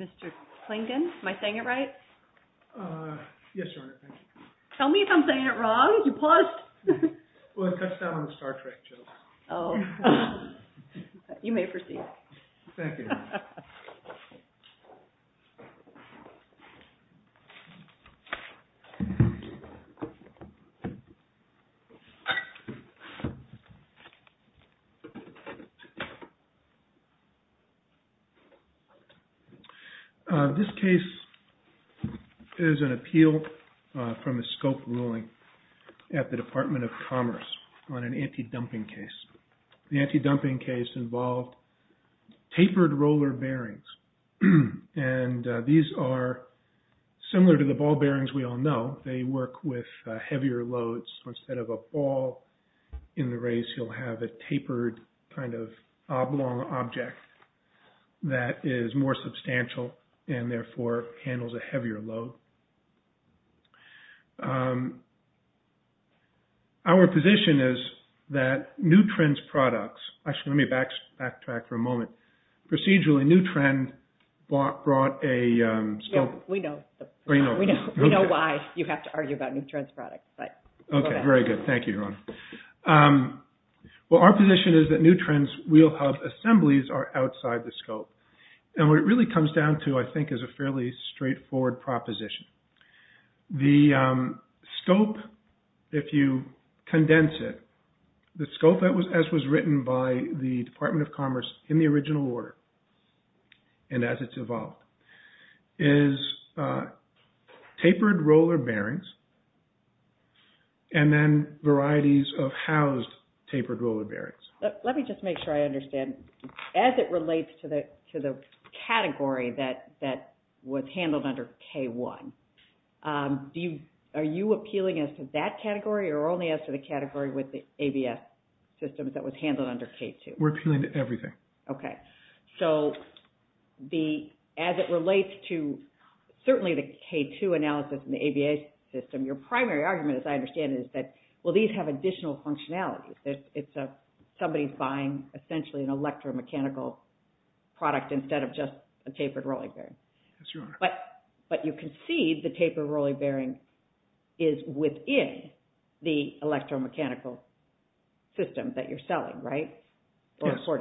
Mr. Klingon, am I saying it right? Yes, Your Honor. Tell me if I'm saying it wrong. You paused. Well, it cuts down on the Star Trek joke. Thank you, Your Honor. This case is an appeal from a scope ruling at the Department of Commerce on an anti-dumping case. The anti-dumping case involved tapered roller bearings, and these are similar to the ball bearings we all know. They work with heavier loads. Instead of a ball in the race, you'll have a tapered kind of oblong object that is more substantial and, therefore, handles a heavier load. Our position is that New Trends products – actually, let me backtrack for a moment. Procedurally, New Trend brought a – We know why you have to argue about New Trends products. Okay, very good. Thank you, Your Honor. Well, our position is that New Trends wheel hub assemblies are outside the scope, and what it really comes down to, I think, is a fairly straightforward proposition. The scope, if you condense it, the scope as was written by the Department of Commerce in the original order and as it's evolved is tapered roller bearings and then varieties of housed tapered roller bearings. Let me just make sure I understand. As it relates to the category that was handled under K-1, are you appealing as to that category or only as to the category with the ABS systems that was handled under K-2? We're appealing to everything. Okay. So, as it relates to certainly the K-2 analysis and the ABS system, your primary argument, as I understand it, is that, well, these have additional functionality. Somebody's buying essentially an electromechanical product instead of just a tapered roller bearing. Yes, Your Honor. But you concede the tapered roller bearing is within the electromechanical system that you're selling, right? Yes. All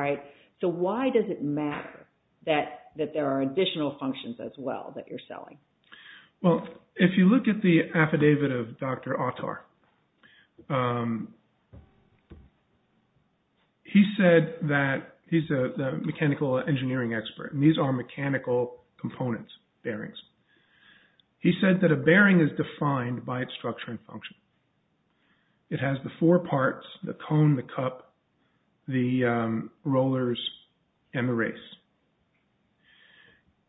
right. So, why does it matter that there are additional functions as well that you're selling? Well, if you look at the affidavit of Dr. Autar, he said that he's a mechanical engineering expert, and these are mechanical components, bearings. He said that a bearing is defined by its structure and function. It has the four parts, the cone, the cup, the rollers, and the race.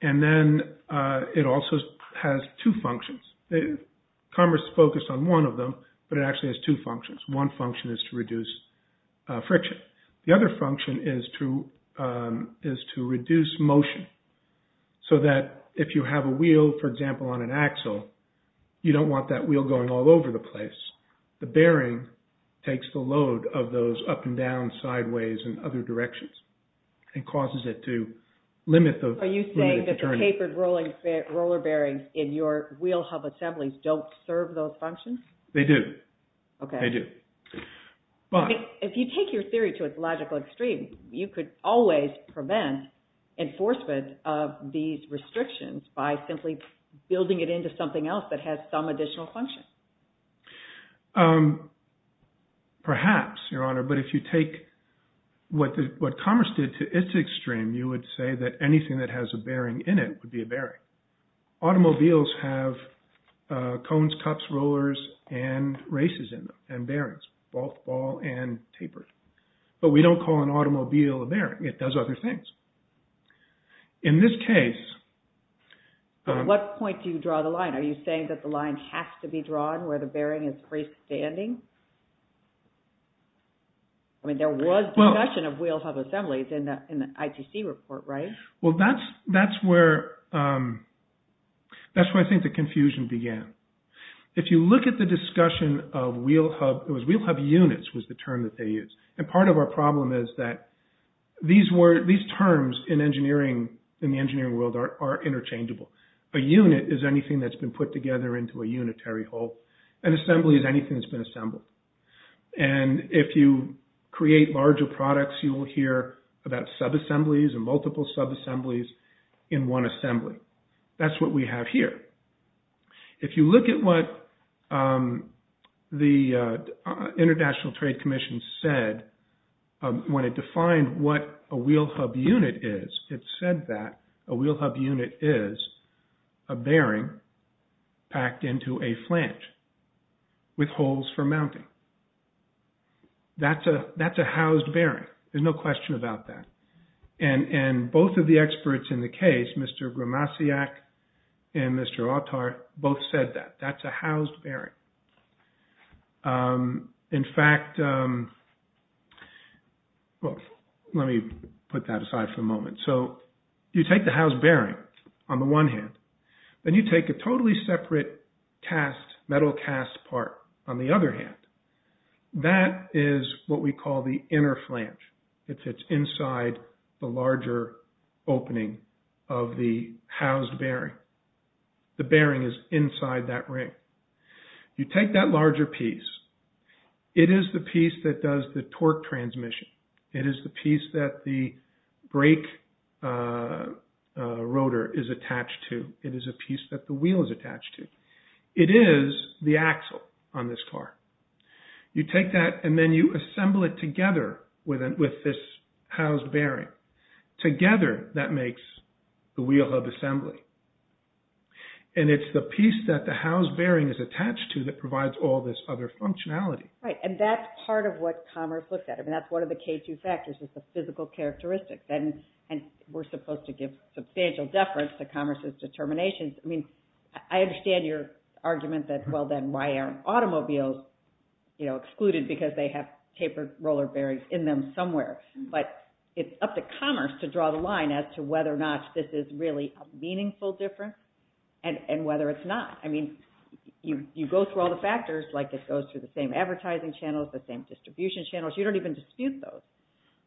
And then it also has two functions. Commerce focused on one of them, but it actually has two functions. One function is to reduce friction. The other function is to reduce motion, so that if you have a wheel, for example, on an axle, you don't want that wheel going all over the place. The bearing takes the load of those up and down, sideways, and other directions and causes it to limit the turning. Are you saying that the tapered roller bearings in your wheel hub assemblies don't serve those functions? They do. Okay. They do. If you take your theory to its logical extreme, you could always prevent enforcement of these restrictions by simply building it into something else that has some additional function. Perhaps, Your Honor, but if you take what commerce did to its extreme, you would say that anything that has a bearing in it would be a bearing. Automobiles have cones, cups, rollers, and races in them, and bearings, both ball and tapered. But we don't call an automobile a bearing. It does other things. In this case… At what point do you draw the line? Are you saying that the line has to be drawn where the bearing is freestanding? I mean, there was discussion of wheel hub assemblies in the ITC report, right? Well, that's where I think the confusion began. If you look at the discussion of wheel hub… It was wheel hub units was the term that they used, and part of our problem is that these terms in the engineering world are interchangeable. A unit is anything that's been put together into a unitary whole. An assembly is anything that's been assembled. And if you create larger products, you will hear about subassemblies and multiple subassemblies in one assembly. That's what we have here. If you look at what the International Trade Commission said when it defined what a wheel hub unit is, it said that a wheel hub unit is a bearing packed into a flange with holes for mounting. That's a housed bearing. There's no question about that. And both of the experts in the case, Mr. Gromasiak and Mr. Autar, both said that. That's a housed bearing. In fact… Well, let me put that aside for a moment. So, you take the housed bearing on the one hand, then you take a totally separate cast, metal cast part on the other hand. That is what we call the inner flange. It fits inside the larger opening of the housed bearing. The bearing is inside that ring. You take that larger piece. It is the piece that does the torque transmission. It is the piece that the brake rotor is attached to. It is a piece that the wheel is attached to. It is the axle on this car. You take that and then you assemble it together with this housed bearing. Together, that makes the wheel hub assembly. And it's the piece that the housed bearing is attached to that provides all this other functionality. Right, and that's part of what Commerce looked at. I mean, that's one of the K2 factors is the physical characteristics. And we're supposed to give substantial deference to Commerce's determinations. I mean, I understand your argument that, well, then why aren't automobiles excluded because they have tapered roller bearings in them somewhere? But it's up to Commerce to draw the line as to whether or not this is really a meaningful difference and whether it's not. I mean, you go through all the factors, like it goes through the same advertising channels, the same distribution channels. You don't even dispute those.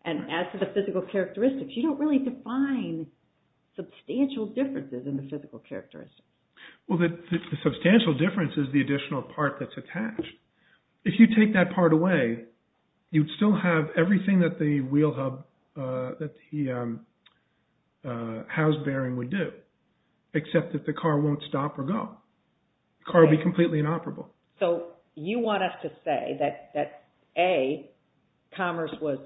And as to the physical characteristics, you don't really define substantial differences in the physical characteristics. Well, the substantial difference is the additional part that's attached. If you take that part away, you'd still have everything that the wheel hub, that the housed bearing would do, except that the car won't stop or go. The car would be completely inoperable. So you want us to say that, A, Commerce was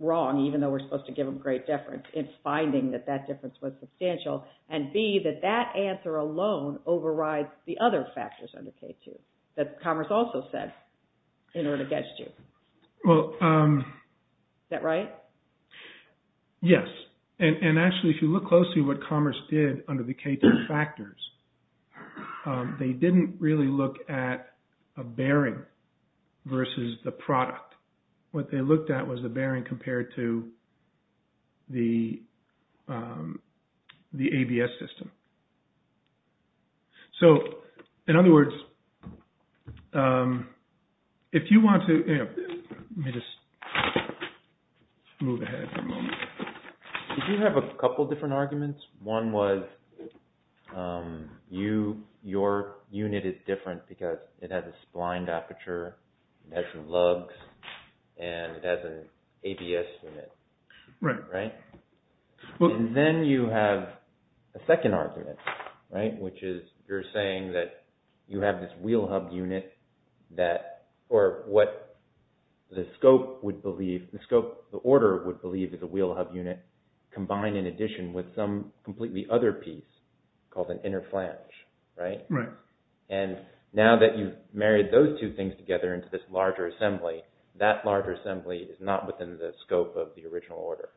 wrong, even though we're supposed to give them great deference. It's finding that that difference was substantial. And, B, that that answer alone overrides the other factors under K2 that Commerce also said in order to get you. Is that right? Yes. And actually, if you look closely what Commerce did under the K2 factors, they didn't really look at a bearing versus the product. What they looked at was the bearing compared to the ABS system. So, in other words, if you want to – let me just move ahead for a moment. Did you have a couple of different arguments? One was your unit is different because it has a spline aperture, it has some lugs, and it has an ABS unit. Right. Right? And then you have a second argument, right, which is you're saying that you have this wheel hub unit that – or what the scope would believe – the scope, the order would believe is a wheel hub unit combined in addition with some completely other piece called an inner flange. Right? Right. And now that you've married those two things together into this larger assembly, that larger assembly is not within the scope of the original order.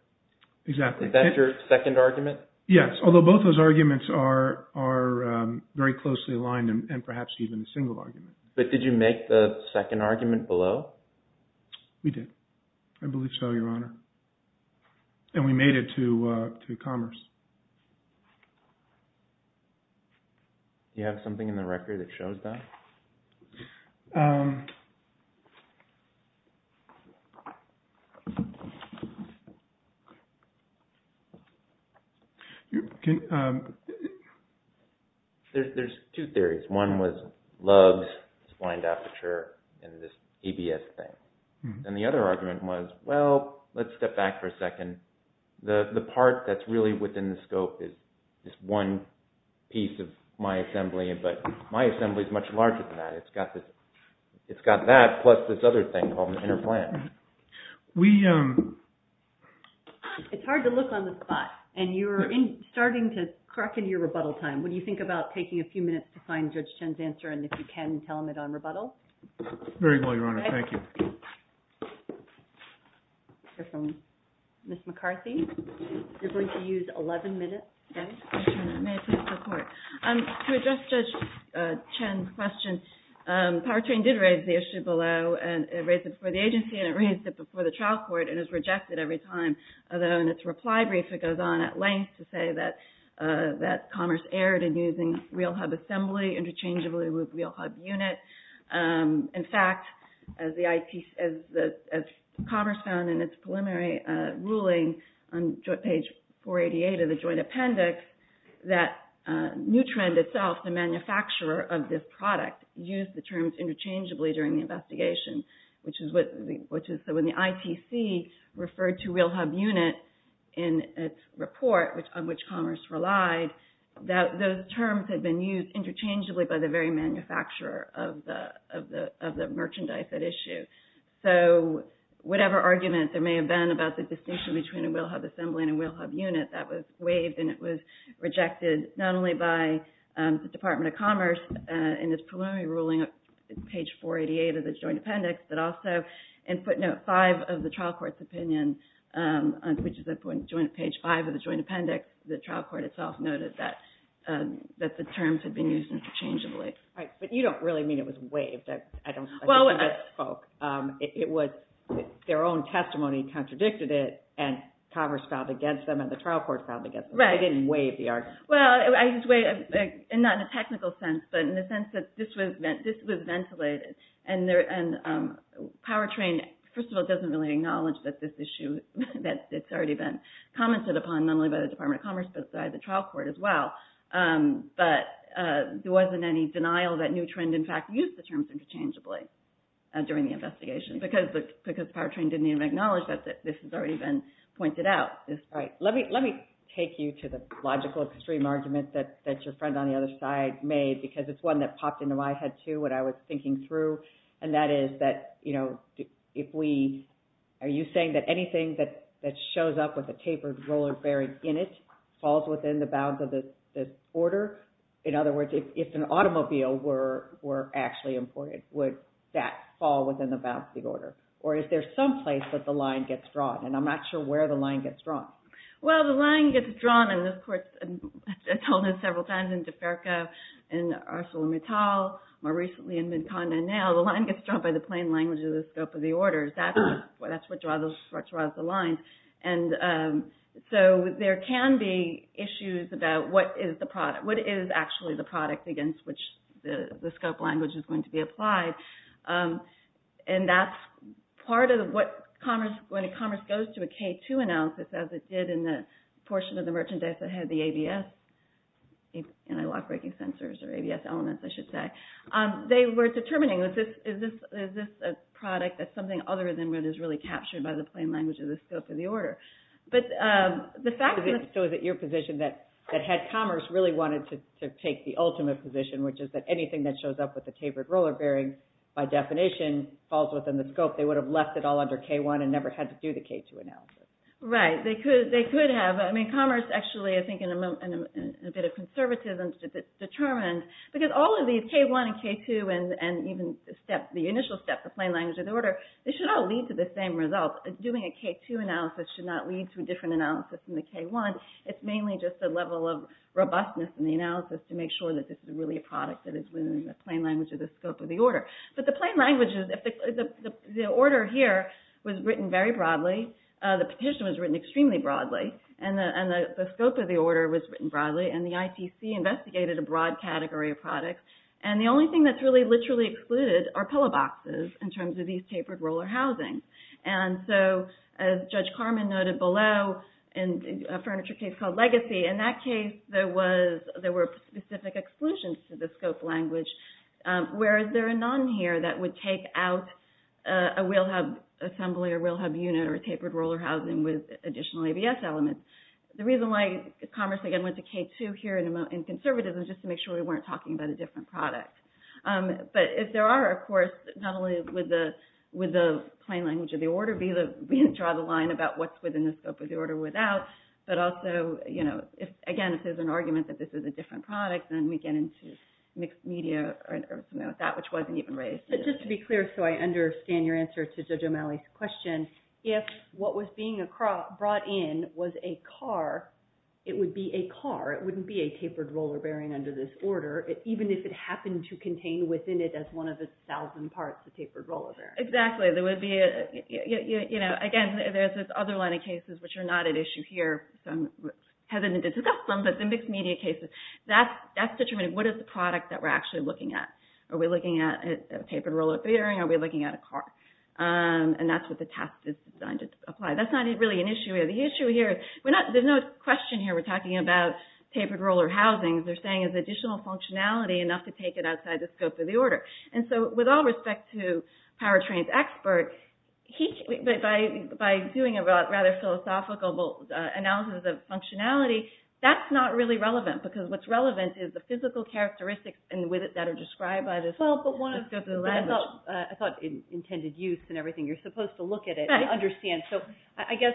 Exactly. Is that your second argument? Yes, although both those arguments are very closely aligned and perhaps even a single argument. But did you make the second argument below? We did. I believe so, Your Honor. And we made it to Commerce. Do you have something in the record that shows that? There's two theories. One was lugs, spline aperture, and this ABS thing. And the other argument was, well, let's step back for a second. The part that's really within the scope is this one piece of my assembly, but my assembly is much larger than that. It's got this – it's got that plus this other thing called an inner flange. We – It's hard to look on the spot, and you're starting to crack into your rebuttal time. What do you think about taking a few minutes to find Judge Chen's answer, and if you can, tell him it on rebuttal? Very well, Your Honor. Thank you. We'll hear from Ms. McCarthy. You're going to use 11 minutes. May I please report? To address Judge Chen's question, Powertrain did raise the issue below, and it raised it before the agency, and it raised it before the trial court, and it was rejected every time. Although in its reply brief, it goes on at length to say that Commerce erred in using real hub assembly interchangeably with real hub unit. In fact, as Commerce found in its preliminary ruling on page 488 of the joint appendix, that Nutrend itself, the manufacturer of this product, used the terms interchangeably during the investigation, which is what – so when the ITC referred to real hub unit in its report, on which Commerce relied, that those terms had been used interchangeably by the very manufacturer of the merchandise at issue. So whatever argument there may have been about the distinction between a real hub assembly and a real hub unit, that was waived, and it was rejected not only by the Department of Commerce in its preliminary ruling on page 488 of the joint appendix, but also in footnote five of the trial court's opinion, which is at page five of the joint appendix, the trial court itself noted that the terms had been used interchangeably. Right, but you don't really mean it was waived. I don't think it was spoke. It was their own testimony contradicted it, and Commerce filed against them, and the trial court filed against them. Right. They didn't waive the argument. Well, not in a technical sense, but in the sense that this was ventilated, and Powertrain, first of all, doesn't really acknowledge that this issue, that it's already been commented upon, not only by the Department of Commerce, but by the trial court as well. But there wasn't any denial that Newtrend, in fact, used the terms interchangeably during the investigation, because Powertrain didn't even acknowledge that this has already been pointed out. Right. Let me take you to the logical extreme argument that your friend on the other side made, because it's one that popped into my head, too, when I was thinking through, and that is that if we – are you saying that anything that shows up with a tapered roller bearing in it falls within the bounds of the order? In other words, if an automobile were actually imported, would that fall within the bounds of the order? Or is there some place that the line gets drawn? And I'm not sure where the line gets drawn. Well, the line gets drawn, and of course, I've told this several times in DeFerco, in ArcelorMittal, more recently in Vidcon and now, the line gets drawn by the plain language of the scope of the orders. That's what draws the lines. And so there can be issues about what is actually the product against which the scope language is going to be applied. And that's part of what commerce – when commerce goes to a K2 analysis, as it did in the portion of the merchandise that had the ABS, anti-lock-breaking sensors, or ABS elements, I should say, they were determining, is this a product that's something other than what is really captured by the plain language of the scope of the order? So is it your position that head commerce really wanted to take the ultimate position, which is that anything that shows up with a tapered roller bearing, by definition, falls within the scope? They would have left it all under K1 and never had to do the K2 analysis. Right. They could have. I mean, commerce actually, I think, in a bit of conservatism, determined – because all of these, K1 and K2, and even the initial step, the plain language of the order, they should all lead to the same result. Doing a K2 analysis should not lead to a different analysis than the K1. It's mainly just a level of robustness in the analysis to make sure that this is really a product that is within the plain language of the scope of the order. But the plain language is – the order here was written very broadly. The petition was written extremely broadly, and the scope of the order was written broadly, and the ITC investigated a broad category of products. And the only thing that's really literally excluded are pillow boxes in terms of these tapered roller housings. And so, as Judge Carman noted below, in a furniture case called Legacy, in that case there were specific exclusions to the scope language, whereas there are none here that would take out a wheel hub assembly, a wheel hub unit, or a tapered roller housing with additional ABS elements. The reason why commerce, again, went to K2 here in conservatism is just to make sure we weren't talking about a different product. But if there are, of course, not only would the plain language of the order draw the line about what's within the scope of the order without, but also, again, if there's an argument that this is a different product, then we get into mixed media or something like that, which wasn't even raised. But just to be clear, so I understand your answer to Judge O'Malley's question, if what was being brought in was a car, it would be a car. It wouldn't be a tapered roller bearing under this order. Even if it happened to contain within it as one of the thousand parts a tapered roller bearing. Exactly. Again, there's this other line of cases which are not at issue here, so I'm hesitant to discuss them, but the mixed media cases, that's determining what is the product that we're actually looking at. Are we looking at a tapered roller bearing? Are we looking at a car? And that's what the test is designed to apply. That's not really an issue here. The issue here, there's no question here we're talking about tapered roller housings. They're saying it's additional functionality enough to take it outside the scope of the order. And so with all respect to Powertrain's expert, by doing a rather philosophical analysis of functionality, that's not really relevant because what's relevant is the physical characteristics that are described by this. I thought intended use and everything, you're supposed to look at it and understand. So I guess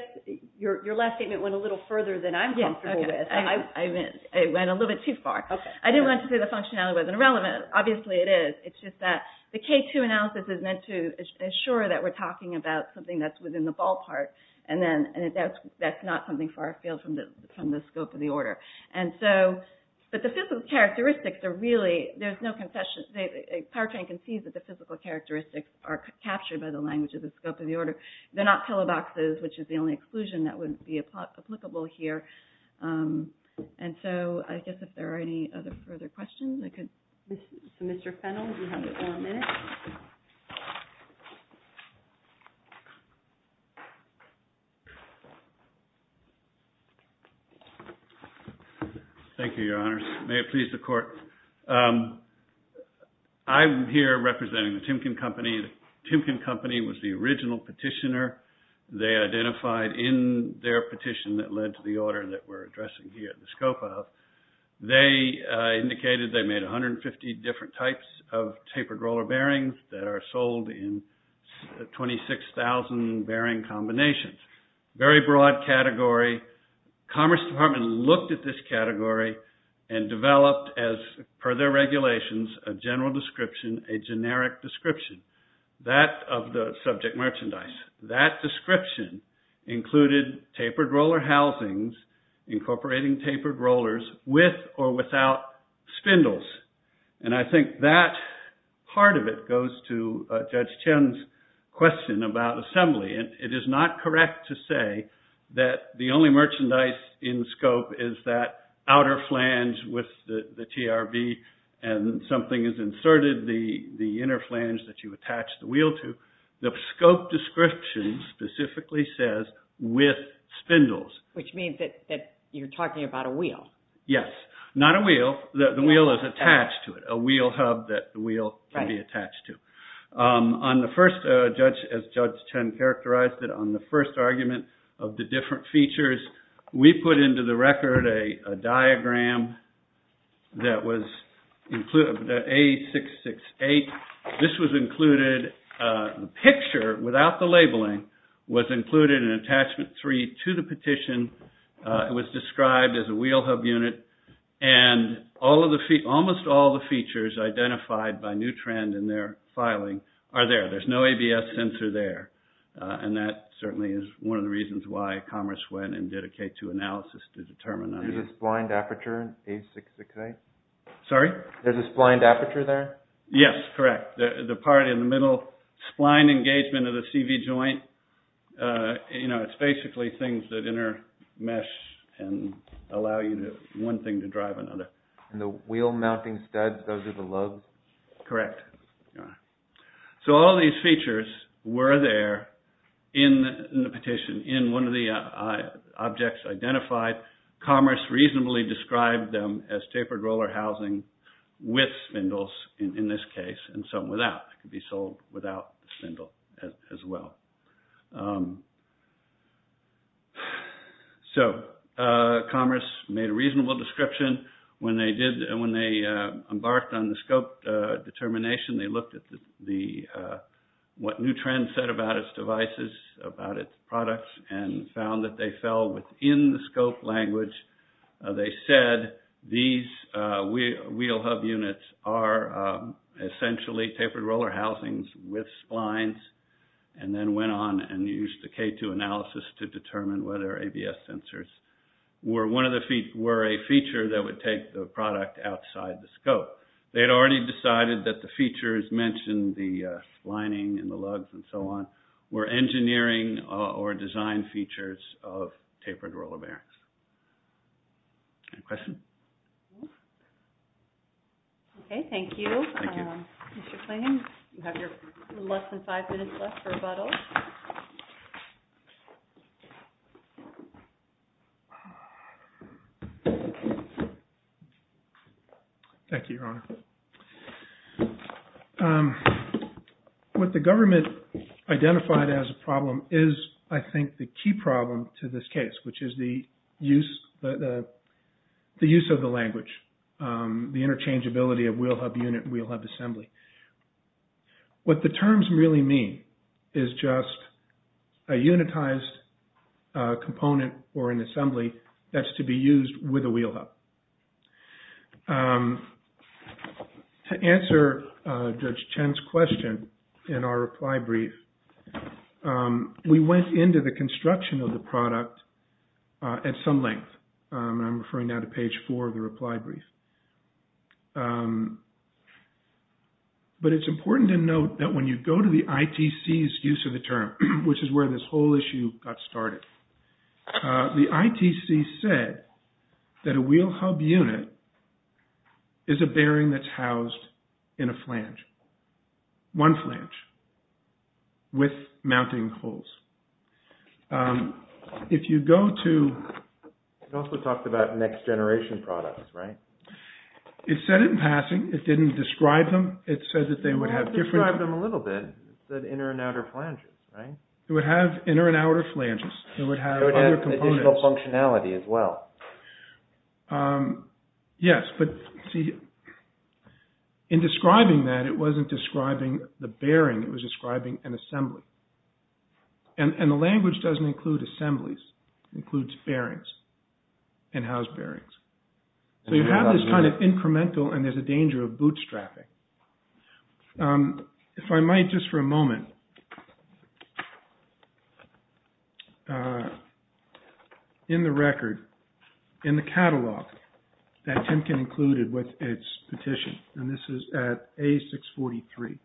your last statement went a little further than I'm comfortable with. I went a little bit too far. I didn't want to say the functionality wasn't relevant. Obviously it is. It's just that the K2 analysis is meant to assure that we're talking about something that's within the ballpark and that's not something far afield from the scope of the order. But the physical characteristics are really, there's no concession. Powertrain concedes that the physical characteristics are captured by the language of the scope of the order. They're not pillow boxes, which is the only exclusion that would be applicable here. And so I guess if there are any other further questions, I could. Mr. Fennell, you have one minute. Thank you, Your Honors. May it please the Court. I'm here representing the Timken Company. The Timken Company was the original petitioner. They identified in their petition that led to the order that we're addressing here, the scope of. They indicated they made 150 different types of tapered roller bearings that are sold in 26,000 bearing combinations. Very broad category. Commerce Department looked at this category and developed as per their regulations, a general description, a generic description. That of the subject merchandise. That description included tapered roller housings incorporating tapered rollers with or without spindles. And I think that part of it goes to Judge Chen's question about assembly. And it is not correct to say that the only merchandise in scope is that outer flange with the TRV and something is inserted, the inner flange that you attach the wheel to. The scope description specifically says with spindles. Which means that you're talking about a wheel. Yes. Not a wheel. The wheel is attached to it. A wheel hub that the wheel can be attached to. On the first, as Judge Chen characterized it, on the first argument of the different features, we put into the record a diagram that was included, the A668. This was included, the picture without the labeling was included in attachment three to the petition. It was described as a wheel hub unit. And almost all the features identified by New Trend in their filing are there. There's no ABS sensor there. And that certainly is one of the reasons why Commerce went and did a K2 analysis to determine that. Is this blind aperture in A668? Sorry? Is this blind aperture there? Yes, correct. The part in the middle, spline engagement of the CV joint. It's basically things that intermesh and allow you to, one thing to drive another. And the wheel mounting studs, those are the lugs? Correct. So all these features were there in the petition, in one of the objects identified. Commerce reasonably described them as tapered roller housing with spindles in this case, and some without. It could be sold without the spindle as well. So Commerce made a reasonable description. When they did, when they embarked on the scope determination, they looked at what New Trend said about its devices, about its products, and found that they fell within the scope language. They said these wheel hub units are essentially tapered roller housings with splines, and then went on and used the K2 analysis to determine whether ABS sensors were a feature that would take the product outside the scope. They had already decided that the features mentioned, the splining and the lugs and so on, were engineering or design features of tapered roller bearings. Any questions? Okay. Thank you. Thank you. Mr. Clayton, you have your less than five minutes left for rebuttal. Thank you, Your Honor. What the government identified as a problem is, I think, the key problem to this case, which is the use of the language, the interchangeability of wheel hub unit and wheel hub assembly. What the terms really mean is just a unitized component or an assembly that's to be used with a wheel hub. To answer Judge Chen's question in our reply brief, we went into the construction of the product at some length. I'm referring now to page four of the reply brief. But it's important to note that when you go to the ITC's use of the term, which is where this whole issue got started, the ITC said that a wheel hub unit is a bearing that's housed in a flange, one flange, with mounting holes. If you go to… It also talked about next generation products, right? It said it in passing. It didn't describe them. It said that they would have different… It would have described them a little bit. It said inner and outer flanges, right? It would have inner and outer flanges. It would have other components. It would have additional functionality as well. Yes, but see, in describing that, it wasn't describing the bearing. It was describing an assembly. And the language doesn't include assemblies. It includes bearings, in-house bearings. So you have this kind of incremental and there's a danger of bootstrapping. If I might, just for a moment. In the record, in the catalog that Timken included with its petition, and this is at A643,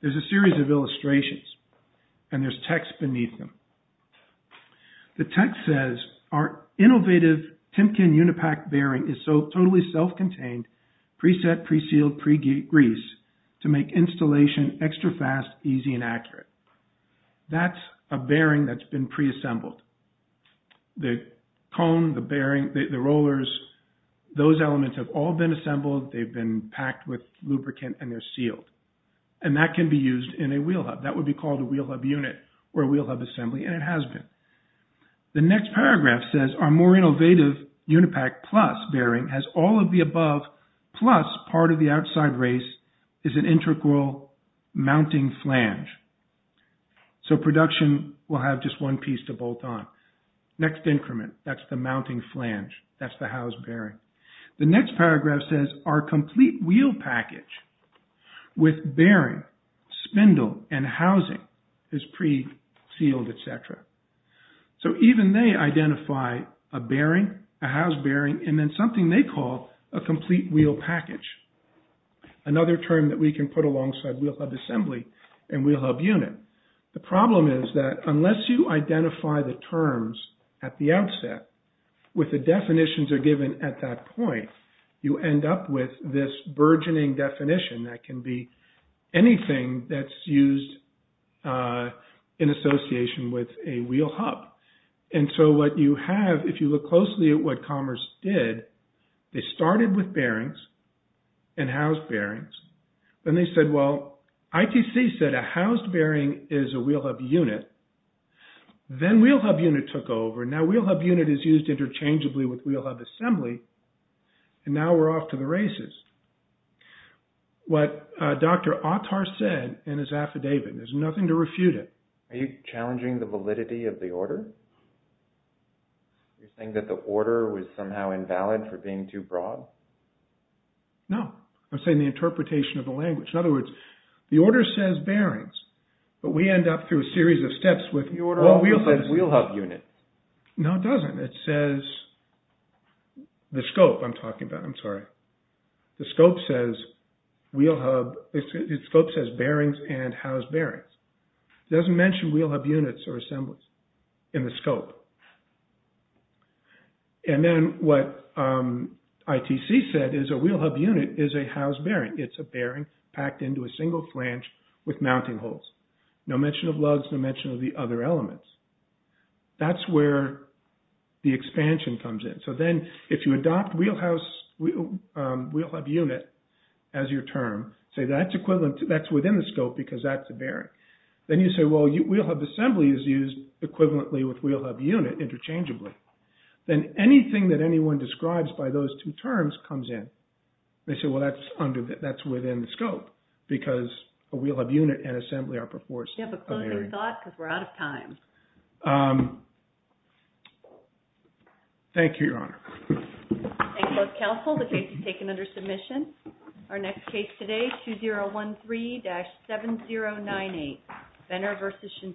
there's a series of illustrations and there's text beneath them. The text says, our innovative Timken Unipack bearing is so totally self-contained, preset, pre-sealed, pre-greased to make installation extra fast, easy, and accurate. That's a bearing that's been pre-assembled. The cone, the bearing, the rollers, those elements have all been assembled. They've been packed with lubricant and they're sealed. And that can be used in a wheel hub. That would be called a wheel hub unit or a wheel hub assembly, and it has been. The next paragraph says, our more innovative Unipack Plus bearing has all of the above, plus part of the outside race is an integral mounting flange. So production will have just one piece to bolt on. Next increment, that's the mounting flange. That's the house bearing. The next paragraph says, our complete wheel package with bearing, spindle, and housing is pre-sealed, et cetera. So even they identify a bearing, a house bearing, and then something they call a complete wheel package. Another term that we can put alongside wheel hub assembly and wheel hub unit. The problem is that unless you identify the terms at the outset with the definitions are given at that point, you end up with this burgeoning definition that can be anything that's used in association with a wheel hub. And so what you have, if you look closely at what Commerce did, they started with bearings and house bearings. Then they said, well, ITC said a house bearing is a wheel hub unit. Then wheel hub unit took over. Now wheel hub unit is used interchangeably with wheel hub assembly. And now we're off to the races. What Dr. Autar said in his affidavit, there's nothing to refute it. Are you challenging the validity of the order? You're saying that the order was somehow invalid for being too broad? No, I'm saying the interpretation of the language. In other words, the order says bearings, but we end up through a series of steps with the order of wheel hub units. No, it doesn't. It says the scope I'm talking about. I'm sorry. The scope says bearings and house bearings. It doesn't mention wheel hub units or assemblies in the scope. And then what ITC said is a wheel hub unit is a house bearing. It's a bearing packed into a single flange with mounting holes. No mention of lugs, no mention of the other elements. That's where the expansion comes in. So then if you adopt wheel hub unit as your term, say that's within the scope because that's a bearing. Then you say, well, wheel hub assembly is used equivalently with wheel hub unit interchangeably. Then anything that anyone describes by those two terms comes in. They say, well, that's within the scope because a wheel hub unit and assembly are perforced. Do you have a closing thought because we're out of time? Thank you, Your Honor. Thank you, both counsel. The case is taken under submission. Our next case today, 2013-7098, Benner v. Shinseki.